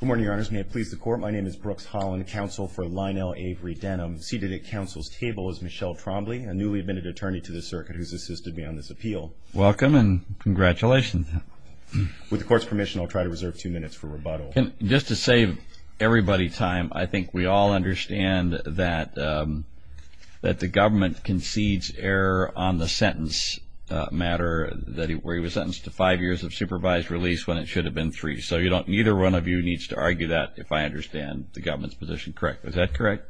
Good morning, your honors. May it please the court, my name is Brooks Holland, counsel for Lionel Avery Denham. Seated at counsel's table is Michelle Trombley, a newly-admitted attorney to the circuit who's assisted me on this appeal. Welcome and congratulations. With the court's permission, I'll try to reserve two minutes for rebuttal. Just to save everybody time, I think we all understand that the government concedes error on the sentence matter where he was sentenced to five years of supervised release when it should have been three. So neither one of you needs to argue that if I understand the government's position correct. Is that correct?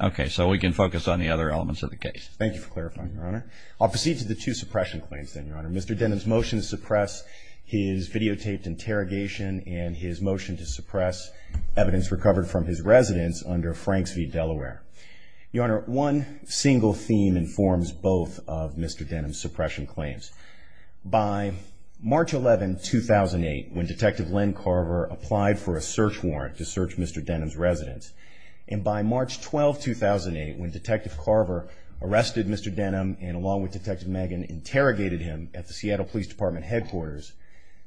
Okay, so we can focus on the other elements of the case. Thank you for clarifying, your honor. I'll proceed to the two suppression claims then, your honor. Mr. Denham's motion to suppress his videotaped interrogation and his motion to suppress evidence recovered from his residence under Franks v. Delaware. Your honor, one single theme informs both of Mr. Denham's suppression claims. By March 11, 2008, when Detective Len Carver applied for a search warrant to search Mr. Denham's residence, and by March 12, 2008, when Detective Carver arrested Mr. Denham and along with Detective Megan interrogated him at the Seattle Police Department headquarters,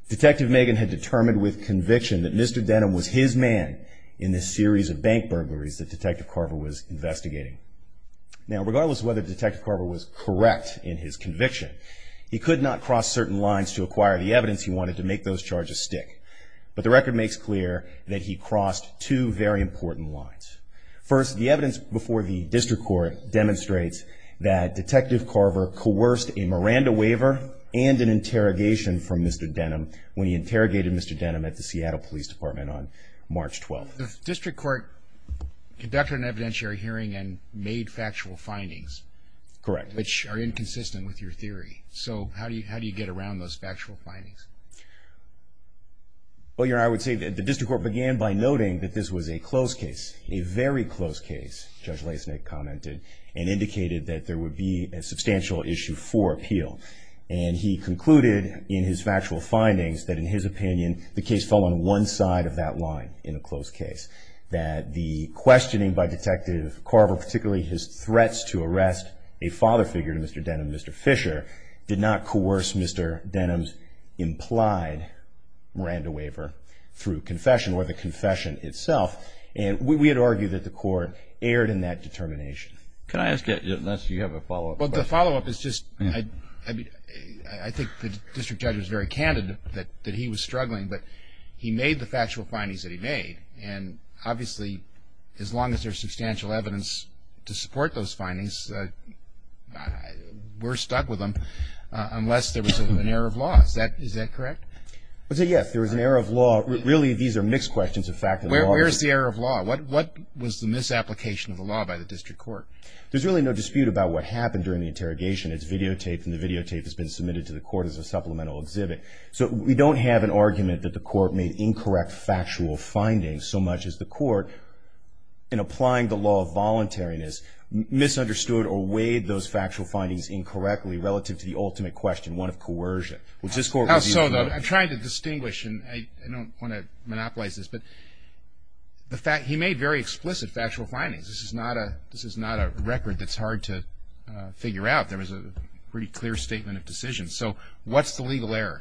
Detective Megan had determined with conviction that Mr. Denham was his man in this series of bank burglaries that Detective Carver was investigating. Now, regardless of whether Detective Carver was correct in his conviction, he could not cross certain lines to acquire the evidence he wanted to make those charges stick. But the record makes clear that he crossed two very important lines. First, the evidence before the district court demonstrates that Detective Carver coerced a Miranda waiver and an interrogation from Mr. Denham when he interrogated Mr. Denham at the Seattle Police Department on March 12. Well, the district court conducted an evidentiary hearing and made factual findings. Correct. Which are inconsistent with your theory. So how do you get around those factual findings? Well, your honor, I would say that the district court began by noting that this was a close case, a very close case, Judge Lesnik commented, and indicated that there would be a substantial issue for appeal. And he concluded in his factual findings that, in his opinion, the case fell on one side of that line in a close case. That the questioning by Detective Carver, particularly his threats to arrest a father figure to Mr. Denham, Mr. Fisher, did not coerce Mr. Denham's implied Miranda waiver through confession or the confession itself. And we would argue that the court erred in that determination. Can I ask you, unless you have a follow-up question? Well, the follow-up is just, I think the district judge was very candid that he was struggling, but he made the factual findings that he made. And obviously, as long as there's substantial evidence to support those findings, we're stuck with them. Unless there was an error of law. Is that correct? I would say yes, there was an error of law. Really, these are mixed questions of fact and law. Where's the error of law? What was the misapplication of the law by the district court? There's really no dispute about what happened during the interrogation. It's videotaped, and the videotape has been submitted to the court as a supplemental exhibit. So we don't have an argument that the court made incorrect factual findings, so much as the court, in applying the law of voluntariness, misunderstood or weighed those factual findings incorrectly relative to the ultimate question, one of coercion. I'm trying to distinguish, and I don't want to monopolize this, but he made very explicit factual findings. This is not a record that's hard to figure out. There was a pretty clear statement of decision. So what's the legal error?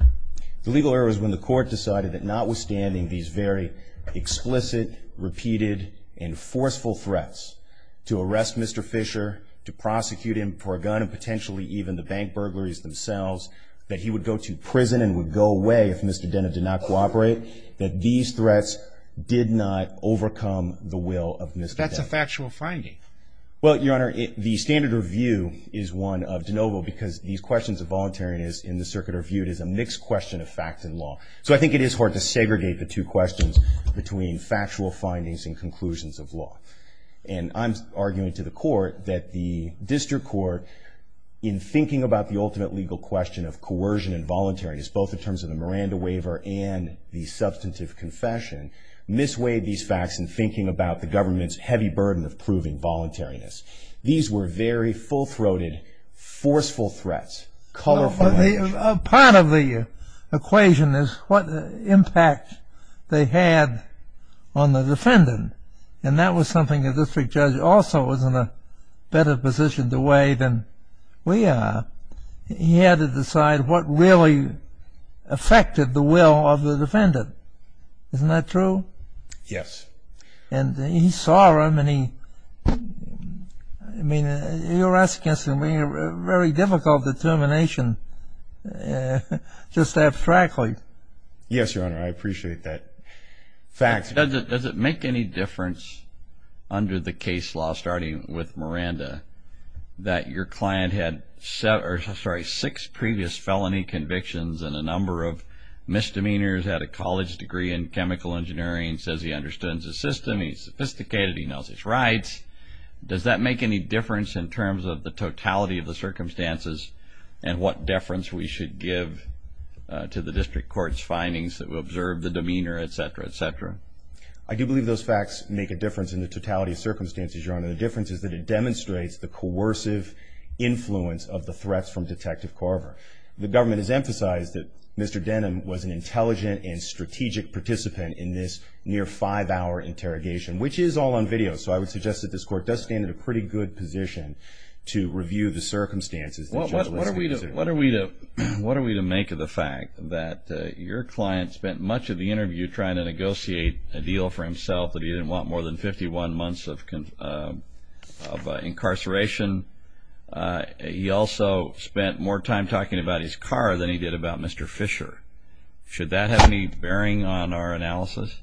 The legal error is when the court decided that notwithstanding these very explicit, repeated, and forceful threats to arrest Mr. Fisher, to prosecute him for a gun, and potentially even the bank burglaries themselves, that he would go to prison and would go away if Mr. Dena did not cooperate, that these threats did not overcome the will of Mr. Dena. But that's a factual finding. Well, Your Honor, the standard review is one of de novo because these questions of voluntariness in the circuit are viewed as a mixed question of fact and law. So I think it is hard to segregate the two questions between factual findings and conclusions of law. And I'm arguing to the court that the district court, in thinking about the ultimate legal question of coercion and voluntariness, both in terms of the Miranda waiver and the substantive confession, misweighed these facts in thinking about the government's heavy burden of proving voluntariness. These were very full-throated, forceful threats. Part of the equation is what impact they had on the defendant. And that was something the district judge also was in a better position to weigh than we are. He had to decide what really affected the will of the defendant. Isn't that true? Yes. And he saw them, and he... I mean, you're asking some very difficult determination, just abstractly. Yes, Your Honor, I appreciate that. Facts. Does it make any difference under the case law, starting with Miranda, that your client had six previous felony convictions and a number of misdemeanors, had a college degree in chemical engineering, says he understands the system, he's sophisticated, he knows his rights, does that make any difference in terms of the totality of the circumstances and what deference we should give to the district court's findings that will observe the demeanor, et cetera, et cetera? I do believe those facts make a difference in the totality of circumstances, Your Honor. The difference is that it demonstrates the coercive influence of the threats from Detective Carver. The government has emphasized that Mr. Denham was an intelligent and strategic participant in this near-five-hour interrogation, which is all on video, so I would suggest that this court does stand in a pretty good position to review the circumstances. What are we to make of the fact that your client spent much of the interview trying to negotiate a deal for himself that he didn't want more than 51 months of incarceration? He also spent more time talking about his car than he did about Mr. Fisher. Should that have any bearing on our analysis?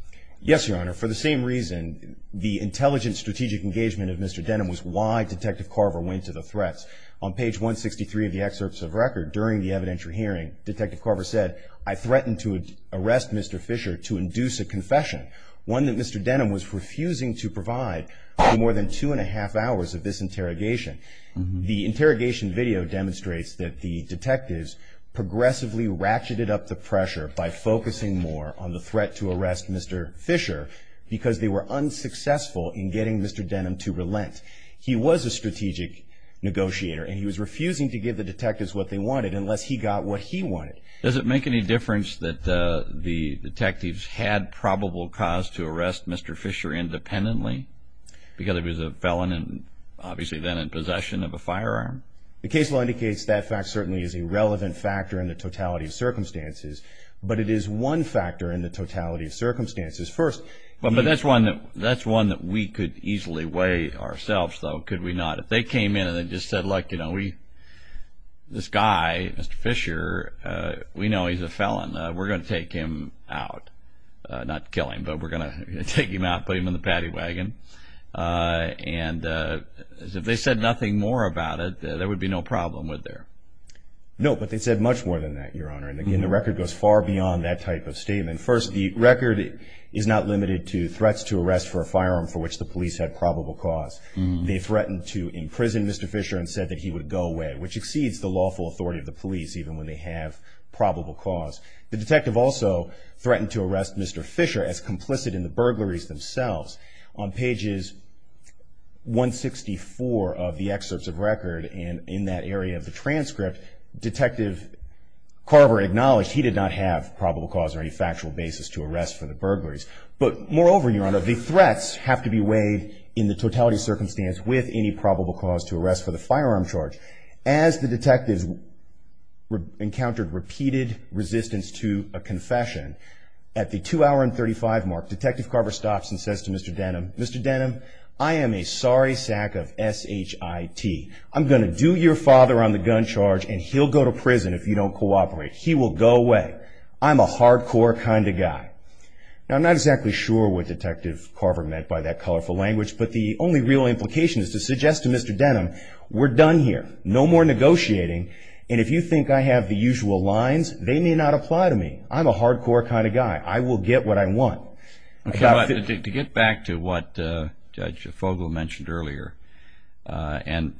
Yes, Your Honor. For the same reason, the intelligent, strategic engagement of Mr. Denham was why Detective Carver went to the threats. On page 163 of the excerpts of record, during the evidentiary hearing, Detective Carver said, I threatened to arrest Mr. Fisher to induce a confession, one that Mr. Denham was refusing to provide for more than two-and-a-half hours of this interrogation. The interrogation video demonstrates that the detectives progressively ratcheted up the pressure by focusing more on the threat to arrest Mr. Fisher because they were unsuccessful in getting Mr. Denham to relent. He was a strategic negotiator, and he was refusing to give the detectives what they wanted unless he got what he wanted. Does it make any difference that the detectives had probable cause to arrest Mr. Fisher independently because he was a felon and obviously then in possession of a firearm? The case law indicates that fact certainly is a relevant factor in the totality of circumstances, but it is one factor in the totality of circumstances. But that's one that we could easily weigh ourselves, though, could we not? If they came in and they just said, this guy, Mr. Fisher, we know he's a felon. We're going to take him out. Not kill him, but we're going to take him out, put him in the paddy wagon. And if they said nothing more about it, there would be no problem, would there? No, but they said much more than that, Your Honor. And again, the record goes far beyond that type of statement. First, the record is not limited to threats to arrest for a firearm for which the police had probable cause. They threatened to imprison Mr. Fisher and said that he would go away, which exceeds the lawful authority of the police even when they have probable cause. The detective also threatened to arrest Mr. Fisher as complicit in the burglaries themselves. On pages 164 of the excerpts of record and in that area of the transcript, Detective Carver acknowledged he did not have probable cause or any factual basis to arrest for the burglaries. But moreover, Your Honor, the threats have to be weighed in the totality circumstance with any probable cause to arrest for the firearm charge. As the detectives encountered repeated resistance to a confession, at the 2 hour and 35 mark Detective Carver stops and says to Mr. Denham, Mr. Denham, I am a sorry sack of S-H-I-T. I'm going to do your father on the gun charge and he'll go to prison if you don't cooperate. He will go away. I'm a hardcore kind of guy. Now, I'm not exactly sure what Detective Carver meant by that colorful language, but the only real implication is to suggest to Mr. Denham, we're done here. No more negotiating. And if you think I have the usual lines, they may not apply to me. I'm a hardcore kind of guy. I will get what I want. To get back to what Judge Fogle mentioned earlier, and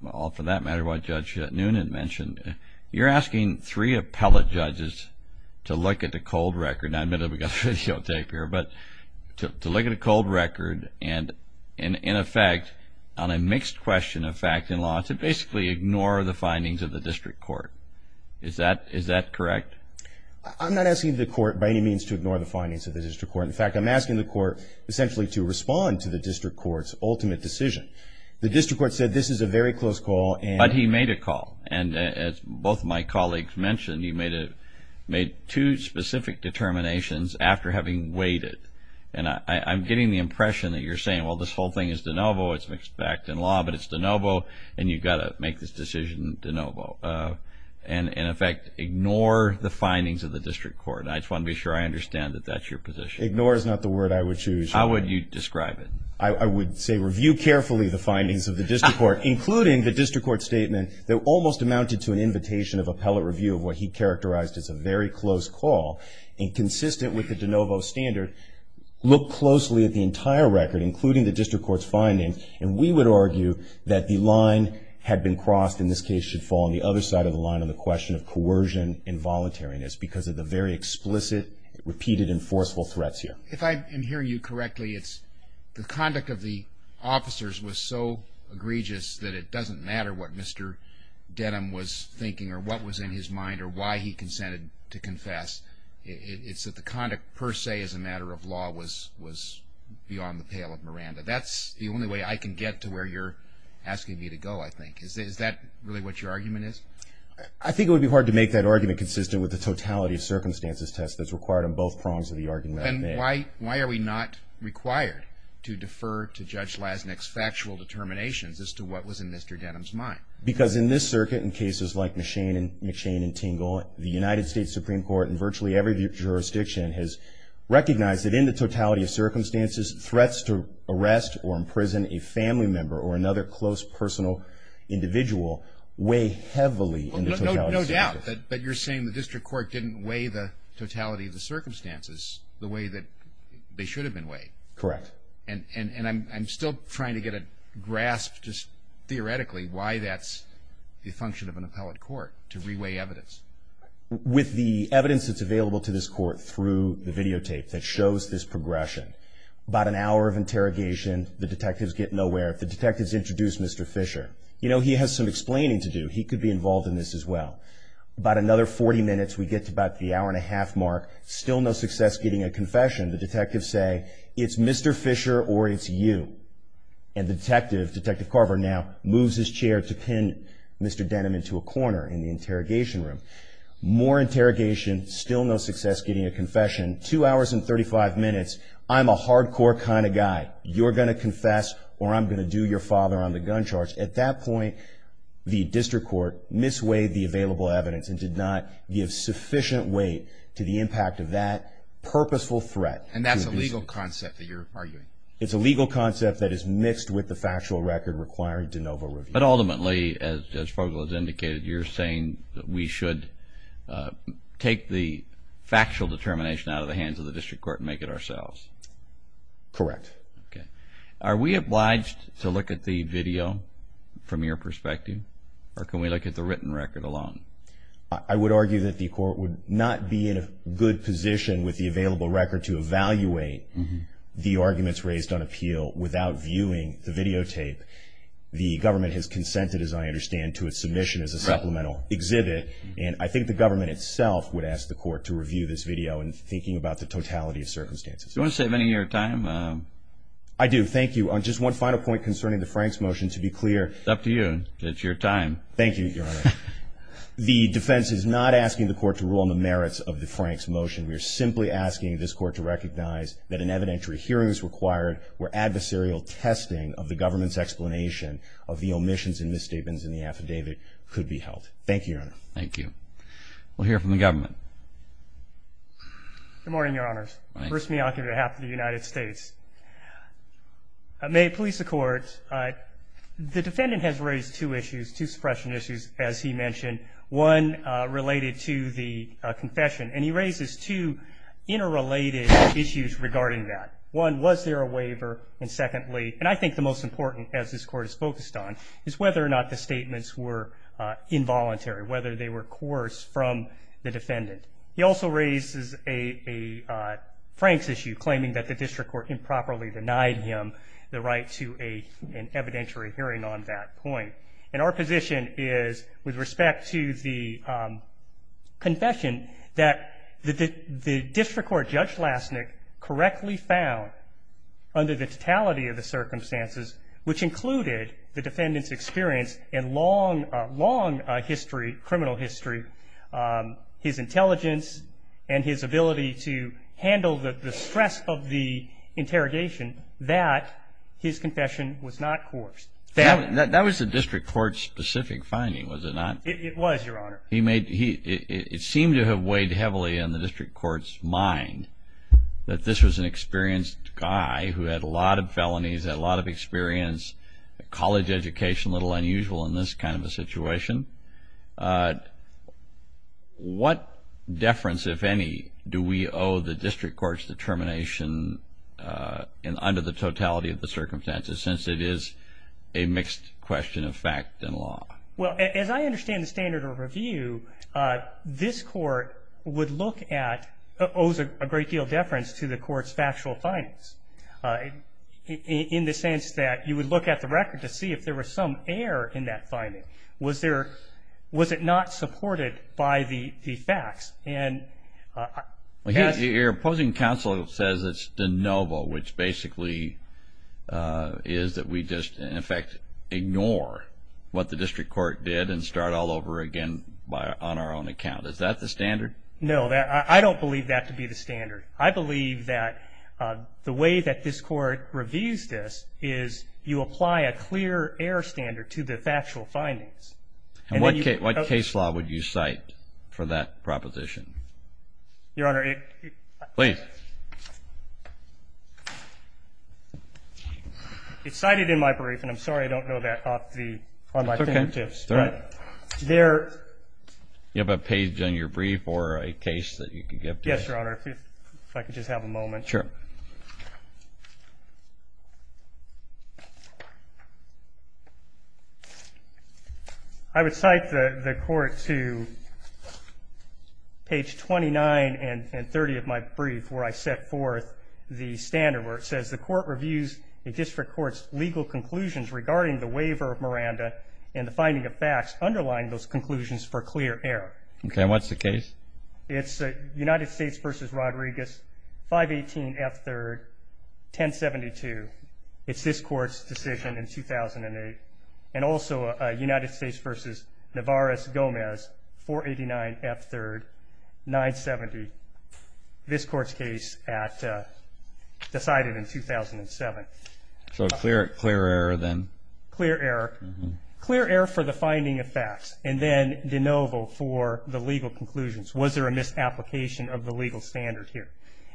for that matter what Judge Noonan mentioned, you're asking three appellate judges to look at the cold record, and I admit we've got videotape here, but to look at a cold record and in effect on a mixed question of fact and law to basically ignore the findings of the district court. Is that correct? I'm not asking the court by any means to ignore the findings of the district court. In fact, I'm asking the court essentially to respond to the district court's ultimate decision. The district court said this is a very close call. But he made a call, and as both of my colleagues mentioned, he made two specific determinations after having waited. And I'm getting the impression that you're saying, well, this whole thing is de novo, it's mixed fact and law, but it's de novo, and you've got to make this decision de novo. And in effect, ignore the findings of the district court. I just want to be sure I understand that that's your position. Ignore is not the word I would choose. How would you describe it? I would say review carefully the findings of the district court, including the district court statement that almost amounted to an invitation of appellate review of what he characterized as a very close call, and consistent with the de novo standard, look closely at the entire record, including the district court's findings, and we would argue that the line had been crossed and this case should fall on the other side of the line on the question of coercion and voluntariness because of the very explicit, repeated, and forceful threats here. If I'm hearing you correctly, it's the conduct of the officers was so egregious that it doesn't matter what Mr. Denham was thinking or what was in his mind or why he consented to confess. It's that the conduct per se as a matter of law was beyond the pale of Miranda. That's the only way I can get to where you're asking me to go, I think. Is that really what your argument is? I think it would be hard to make that argument consistent with the totality of circumstances test that's required on both prongs of the argument. Then why are we not required to defer to Judge Lasnik's factual determinations as to what was in Mr. Denham's mind? Because in this circuit, in cases like McShane and Tingle, the United States Supreme Court in virtually every jurisdiction has recognized that in the totality of circumstances, threats to arrest or imprison a family member But you're saying the district court didn't weigh the totality of the circumstances the way that they should have been weighed. Correct. And I'm still trying to get a grasp just theoretically why that's the function of an appellate court, to re-weigh evidence. With the evidence that's available to this court through the videotape that shows this progression, about an hour of interrogation, the detectives get nowhere. The detectives introduce Mr. Fisher. You know, he has some explaining to do. He could be involved in this as well. About another 40 minutes, we get to about the hour and a half mark. Still no success getting a confession. The detectives say, it's Mr. Fisher or it's you. And the detective, Detective Carver now, moves his chair to pin Mr. Denham into a corner in the interrogation room. More interrogation, still no success getting a confession. Two hours and 35 minutes, I'm a hardcore kind of guy. You're going to confess or I'm going to do your father on the gun charge. At that point, the district court misweighed the available evidence and did not give sufficient weight to the impact of that purposeful threat. And that's a legal concept that you're arguing? It's a legal concept that is mixed with the factual record requiring de novo review. But ultimately, as Fogle has indicated, you're saying that we should take the factual determination out of the hands of the district court and make it ourselves? Correct. Are we obliged to look at the video from your perspective? Or can we look at the written record alone? I would argue that the court would not be in a good position with the available record to evaluate the arguments raised on appeal without viewing the videotape. The government has consented, as I understand, to a submission as a supplemental exhibit. And I think the government itself would ask the court to review this video in thinking about the totality of circumstances. Do you want to save any of your time? I do, thank you. Just one final point concerning the Franks motion, to be clear. It's up to you. It's your time. Thank you, Your Honor. The defense is not asking the court to rule on the merits of the Franks motion. We are simply asking this court to recognize that an evidentiary hearing is required where adversarial testing of the government's explanation of the omissions and misstatements in the affidavit could be held. Thank you, Your Honor. Thank you. We'll hear from the government. Good morning, Your Honors. Good morning. Bruce Miyake, on behalf of the United States. May it please the Court. The defendant has raised two issues, two suppression issues, as he mentioned, one related to the confession. And he raises two interrelated issues regarding that. One, was there a waiver? And secondly, and I think the most important, as this Court is focused on, is whether or not the statements were involuntary, whether they were coerced from the defendant. He also raises a Franks issue, claiming that the district court improperly denied him the right to an evidentiary hearing on that point. And our position is, with respect to the confession, that the district court Judge Lastnick correctly found, under the totality of the circumstances, which included the defendant's experience in long, long history, criminal history, his intelligence and his ability to handle the stress of the interrogation, that his confession was not coerced. That was the district court's specific finding, was it not? It was, Your Honor. It seemed to have weighed heavily on the district court's mind, that this was an experienced guy who had a lot of felonies, had a lot of experience, college education, which is a little unusual in this kind of a situation. What deference, if any, do we owe the district court's determination, under the totality of the circumstances, since it is a mixed question of fact and law? Well, as I understand the standard of review, this Court would look at, owes a great deal of deference to the Court's factual findings, in the sense that you would look at the record to see if there was some error in that finding. Was it not supported by the facts? Your opposing counsel says it's de novo, which basically is that we just, in effect, ignore what the district court did and start all over again on our own account. Is that the standard? No, I don't believe that to be the standard. I believe that the way that this Court reviews this is you apply a clear error standard to the factual findings. And what case law would you cite for that proposition? Your Honor, it... Please. It's cited in my brief, and I'm sorry I don't know that off the, on my fingertips. It's okay. But there... Yes, Your Honor, if I could just have a moment. Sure. I would cite the Court to page 29 and 30 of my brief, where I set forth the standard where it says, the Court reviews the district court's legal conclusions regarding the waiver of Miranda and the finding of facts underlying those conclusions for clear error. Okay, and what's the case? It's United States v. Rodriguez, 518 F. 3rd, 1072. It's this Court's decision in 2008. And also United States v. Navarez-Gomez, 489 F. 3rd, 970. This Court's case decided in 2007. So clear error then? Clear error. Clear error for the finding of facts, and then de novo for the legal conclusions. Was there a misapplication of the legal standard here?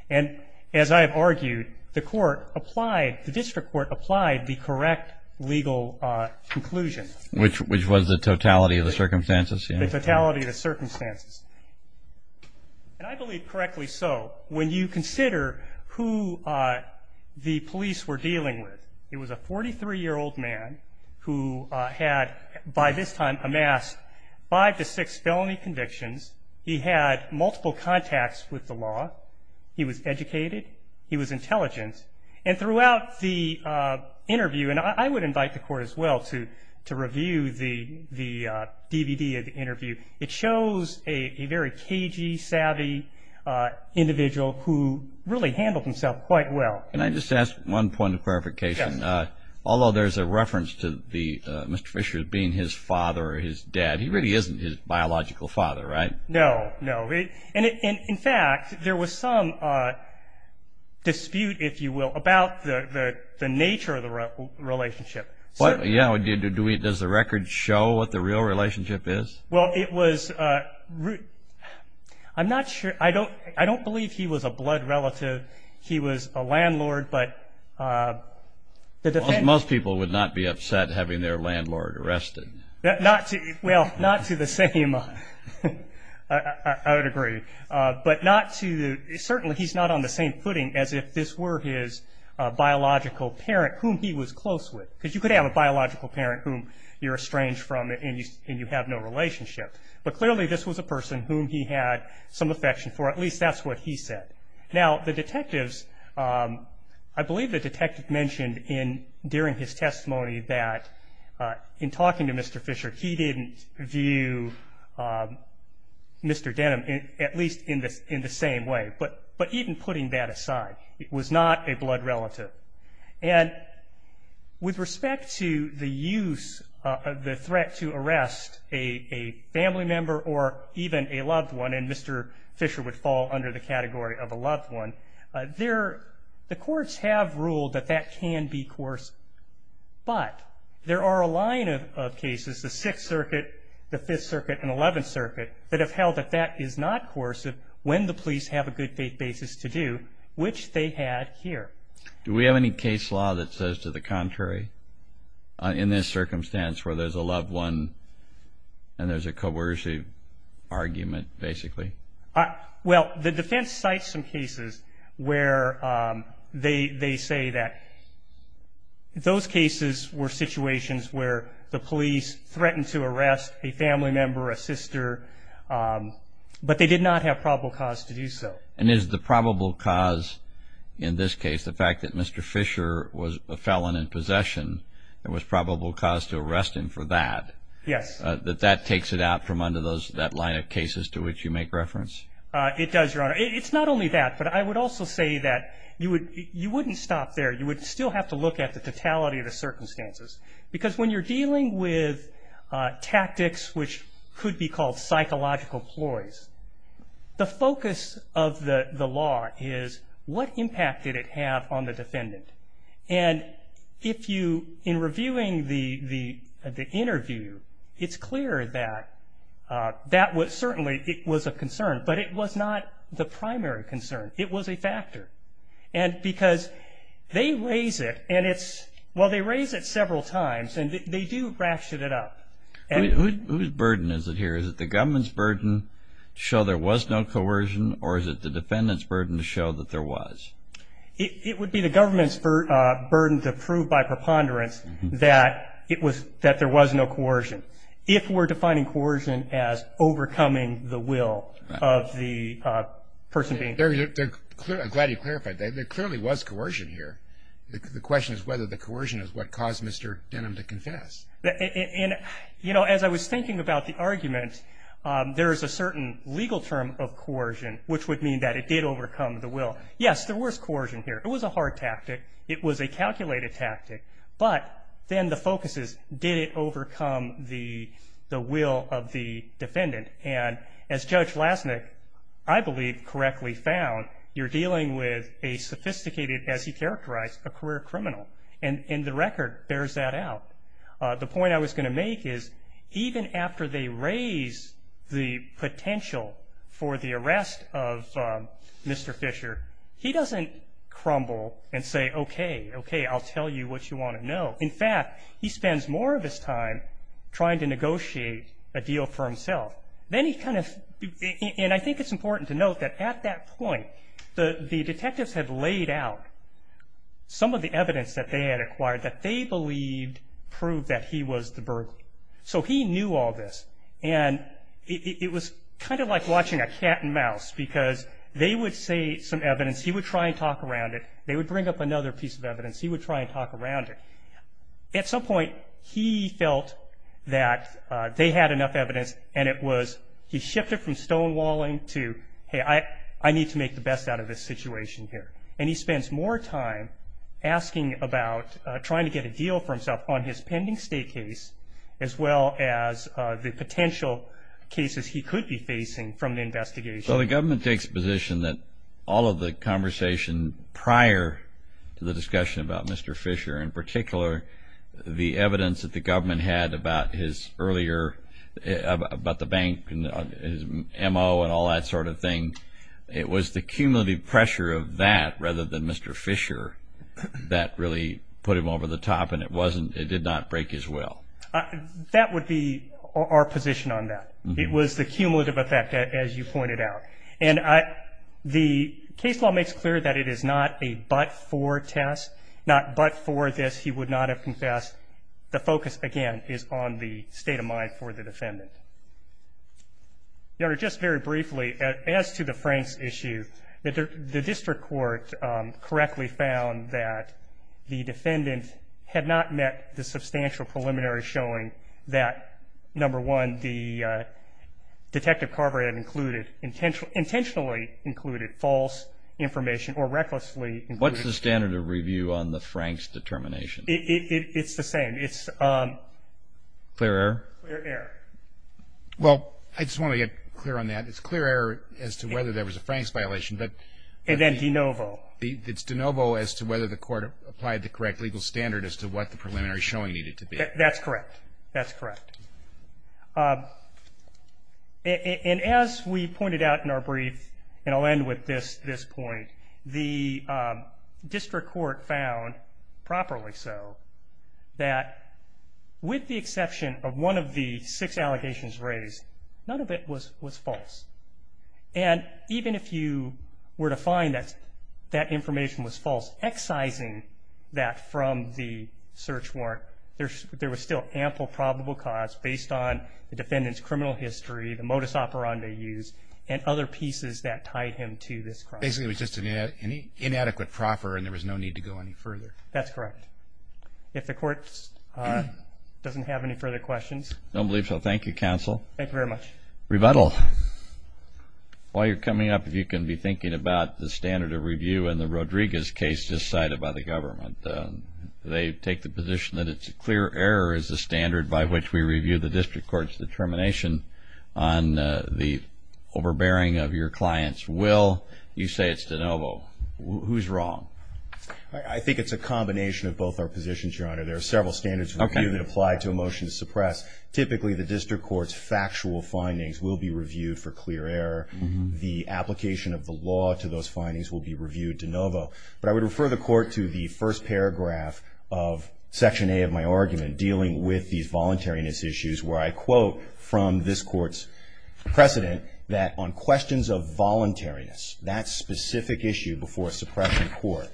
And as I have argued, the court applied, the district court applied the correct legal conclusion. Which was the totality of the circumstances? The totality of the circumstances. And I believe correctly so. When you consider who the police were dealing with, it was a 43-year-old man who had, by this time, amassed five to six felony convictions. He had multiple contacts with the law. He was educated. He was intelligent. And throughout the interview, and I would invite the Court as well to review the DVD of the interview, it shows a very cagey, savvy individual who really handled himself quite well. Can I just ask one point of clarification? Yes. Although there's a reference to Mr. Fisher being his father or his dad, he really isn't his biological father, right? No. No. And, in fact, there was some dispute, if you will, about the nature of the relationship. Yeah. Does the record show what the real relationship is? Well, it was ‑‑ I'm not sure. I don't believe he was a blood relative. He was a landlord, but the defense ‑‑ Most people would not be upset having their landlord arrested. Well, not to the same ‑‑ I would agree. But not to the ‑‑ certainly he's not on the same footing as if this were his biological parent whom he was close with. Because you could have a biological parent whom you're estranged from and you have no relationship. But, clearly, this was a person whom he had some affection for. At least that's what he said. Now, the detectives ‑‑ I believe the detective mentioned during his testimony that, in talking to Mr. Fisher, he didn't view Mr. Denham at least in the same way. But even putting that aside, it was not a blood relative. And with respect to the use of the threat to arrest a family member or even a loved one, and Mr. Fisher would fall under the category of a loved one, the courts have ruled that that can be coercive. But there are a line of cases, the Sixth Circuit, the Fifth Circuit, and Eleventh Circuit, that have held that that is not coercive when the police have a good faith basis to do, which they had here. Do we have any case law that says to the contrary? In this circumstance where there's a loved one and there's a coercive argument, basically? Well, the defense cites some cases where they say that those cases were situations where the police threatened to arrest a family member, a sister, but they did not have probable cause to do so. And is the probable cause in this case, the fact that Mr. Fisher was a felon in possession, there was probable cause to arrest him for that? Yes. That that takes it out from under that line of cases to which you make reference? It does, Your Honor. It's not only that, but I would also say that you wouldn't stop there. You would still have to look at the totality of the circumstances. Because when you're dealing with tactics which could be called psychological ploys, the focus of the law is what impact did it have on the defendant? And if you, in reviewing the interview, it's clear that that was certainly, it was a concern, but it was not the primary concern. It was a factor. And because they raise it, and it's, well, they raise it several times, and they do ratchet it up. Whose burden is it here? Is it the government's burden to show there was no coercion, or is it the defendant's burden to show that there was? It would be the government's burden to prove by preponderance that it was, that there was no coercion. If we're defining coercion as overcoming the will of the person being. I'm glad you clarified that. There clearly was coercion here. The question is whether the coercion is what caused Mr. Denham to confess. You know, as I was thinking about the argument, there is a certain legal term of coercion, which would mean that it did overcome the will. Yes, there was coercion here. It was a hard tactic. It was a calculated tactic. But then the focus is, did it overcome the will of the defendant? And as Judge Lasnik, I believe, correctly found, you're dealing with a sophisticated, as he characterized, a career criminal. And the record bears that out. The point I was going to make is, even after they raise the potential for the arrest of Mr. Fisher, he doesn't crumble and say, okay, okay, I'll tell you what you want to know. In fact, he spends more of his time trying to negotiate a deal for himself. Then he kind of, and I think it's important to note that at that point, the detectives had laid out some of the evidence that they had acquired that they believed proved that he was the burglar. So he knew all this. And it was kind of like watching a cat and mouse, because they would say some evidence. He would try and talk around it. They would bring up another piece of evidence. He would try and talk around it. At some point, he felt that they had enough evidence, and it was he shifted from stonewalling to, hey, I need to make the best out of this situation here. And he spends more time asking about trying to get a deal for himself on his pending state case, as well as the potential cases he could be facing from the investigation. Well, the government takes a position that all of the conversation prior to the discussion about Mr. Fisher, in particular, the evidence that the government had about the bank and his M.O. and all that sort of thing, it was the cumulative pressure of that rather than Mr. Fisher that really put him over the top, and it did not break his will. That would be our position on that. It was the cumulative effect, as you pointed out. And the case law makes clear that it is not a but-for test, not but-for this, he would not have confessed. The focus, again, is on the state of mind for the defendant. Your Honor, just very briefly, as to the Franks issue, the district court correctly found that the defendant had not met the substantial preliminary showing that, number one, Detective Carver had intentionally included false information or recklessly included false information. What's the standard of review on the Franks determination? It's the same. Clear error? Clear error. Well, I just want to get clear on that. It's clear error as to whether there was a Franks violation. And then de novo. It's de novo as to whether the court applied the correct legal standard as to what the preliminary showing needed to be. That's correct. That's correct. And as we pointed out in our brief, and I'll end with this point, the district court found, properly so, that with the exception of one of the six allegations raised, none of it was false. And even if you were to find that that information was false, excising that from the search warrant, there was still ample probable cause based on the defendant's criminal history, the modus operandi used, and other pieces that tied him to this crime. Basically it was just an inadequate proffer and there was no need to go any further. That's correct. If the court doesn't have any further questions. I don't believe so. Thank you, counsel. Thank you very much. Rebuttal. While you're coming up, if you can be thinking about the standard of review in the Rodriguez case just cited by the government. They take the position that it's a clear error as a standard by which we review the district court's determination on the overbearing of your client's will. You say it's de novo. Who's wrong? I think it's a combination of both our positions, Your Honor. There are several standards of review that apply to a motion to suppress. Typically the district court's factual findings will be reviewed for clear error. The application of the law to those findings will be reviewed de novo. But I would refer the court to the first paragraph of Section A of my argument dealing with these voluntariness issues where I quote from this court's precedent that on questions of voluntariness, that specific issue before suppression court,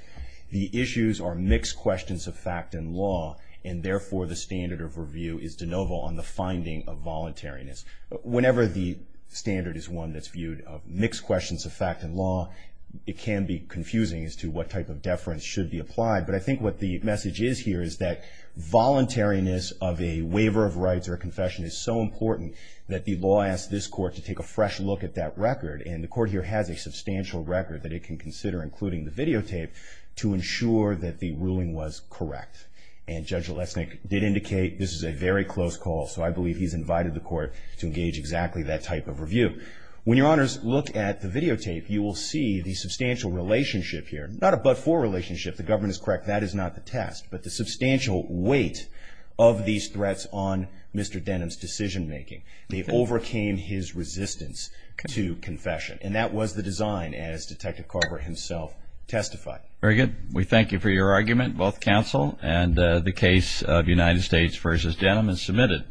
the issues are mixed questions of fact and law, and therefore the standard of review is de novo on the finding of voluntariness. Whenever the standard is one that's viewed of mixed questions of fact and law, it can be confusing as to what type of deference should be applied. But I think what the message is here is that voluntariness of a waiver of rights or a confession is so important that the law asks this court to take a fresh look at that record, and the court here has a substantial record that it can consider, including the videotape, to ensure that the ruling was correct. And Judge Olesnik did indicate this is a very close call, so I believe he's invited the court to engage exactly that type of review. When your honors look at the videotape, you will see the substantial relationship here, not a but-for relationship, the government is correct, that is not the test, but the substantial weight of these threats on Mr. Denham's decision making. They overcame his resistance to confession. And that was the design, as Detective Carver himself testified. Very good. We thank you for your argument, both counsel and the case of United States v. Denham. It's submitted.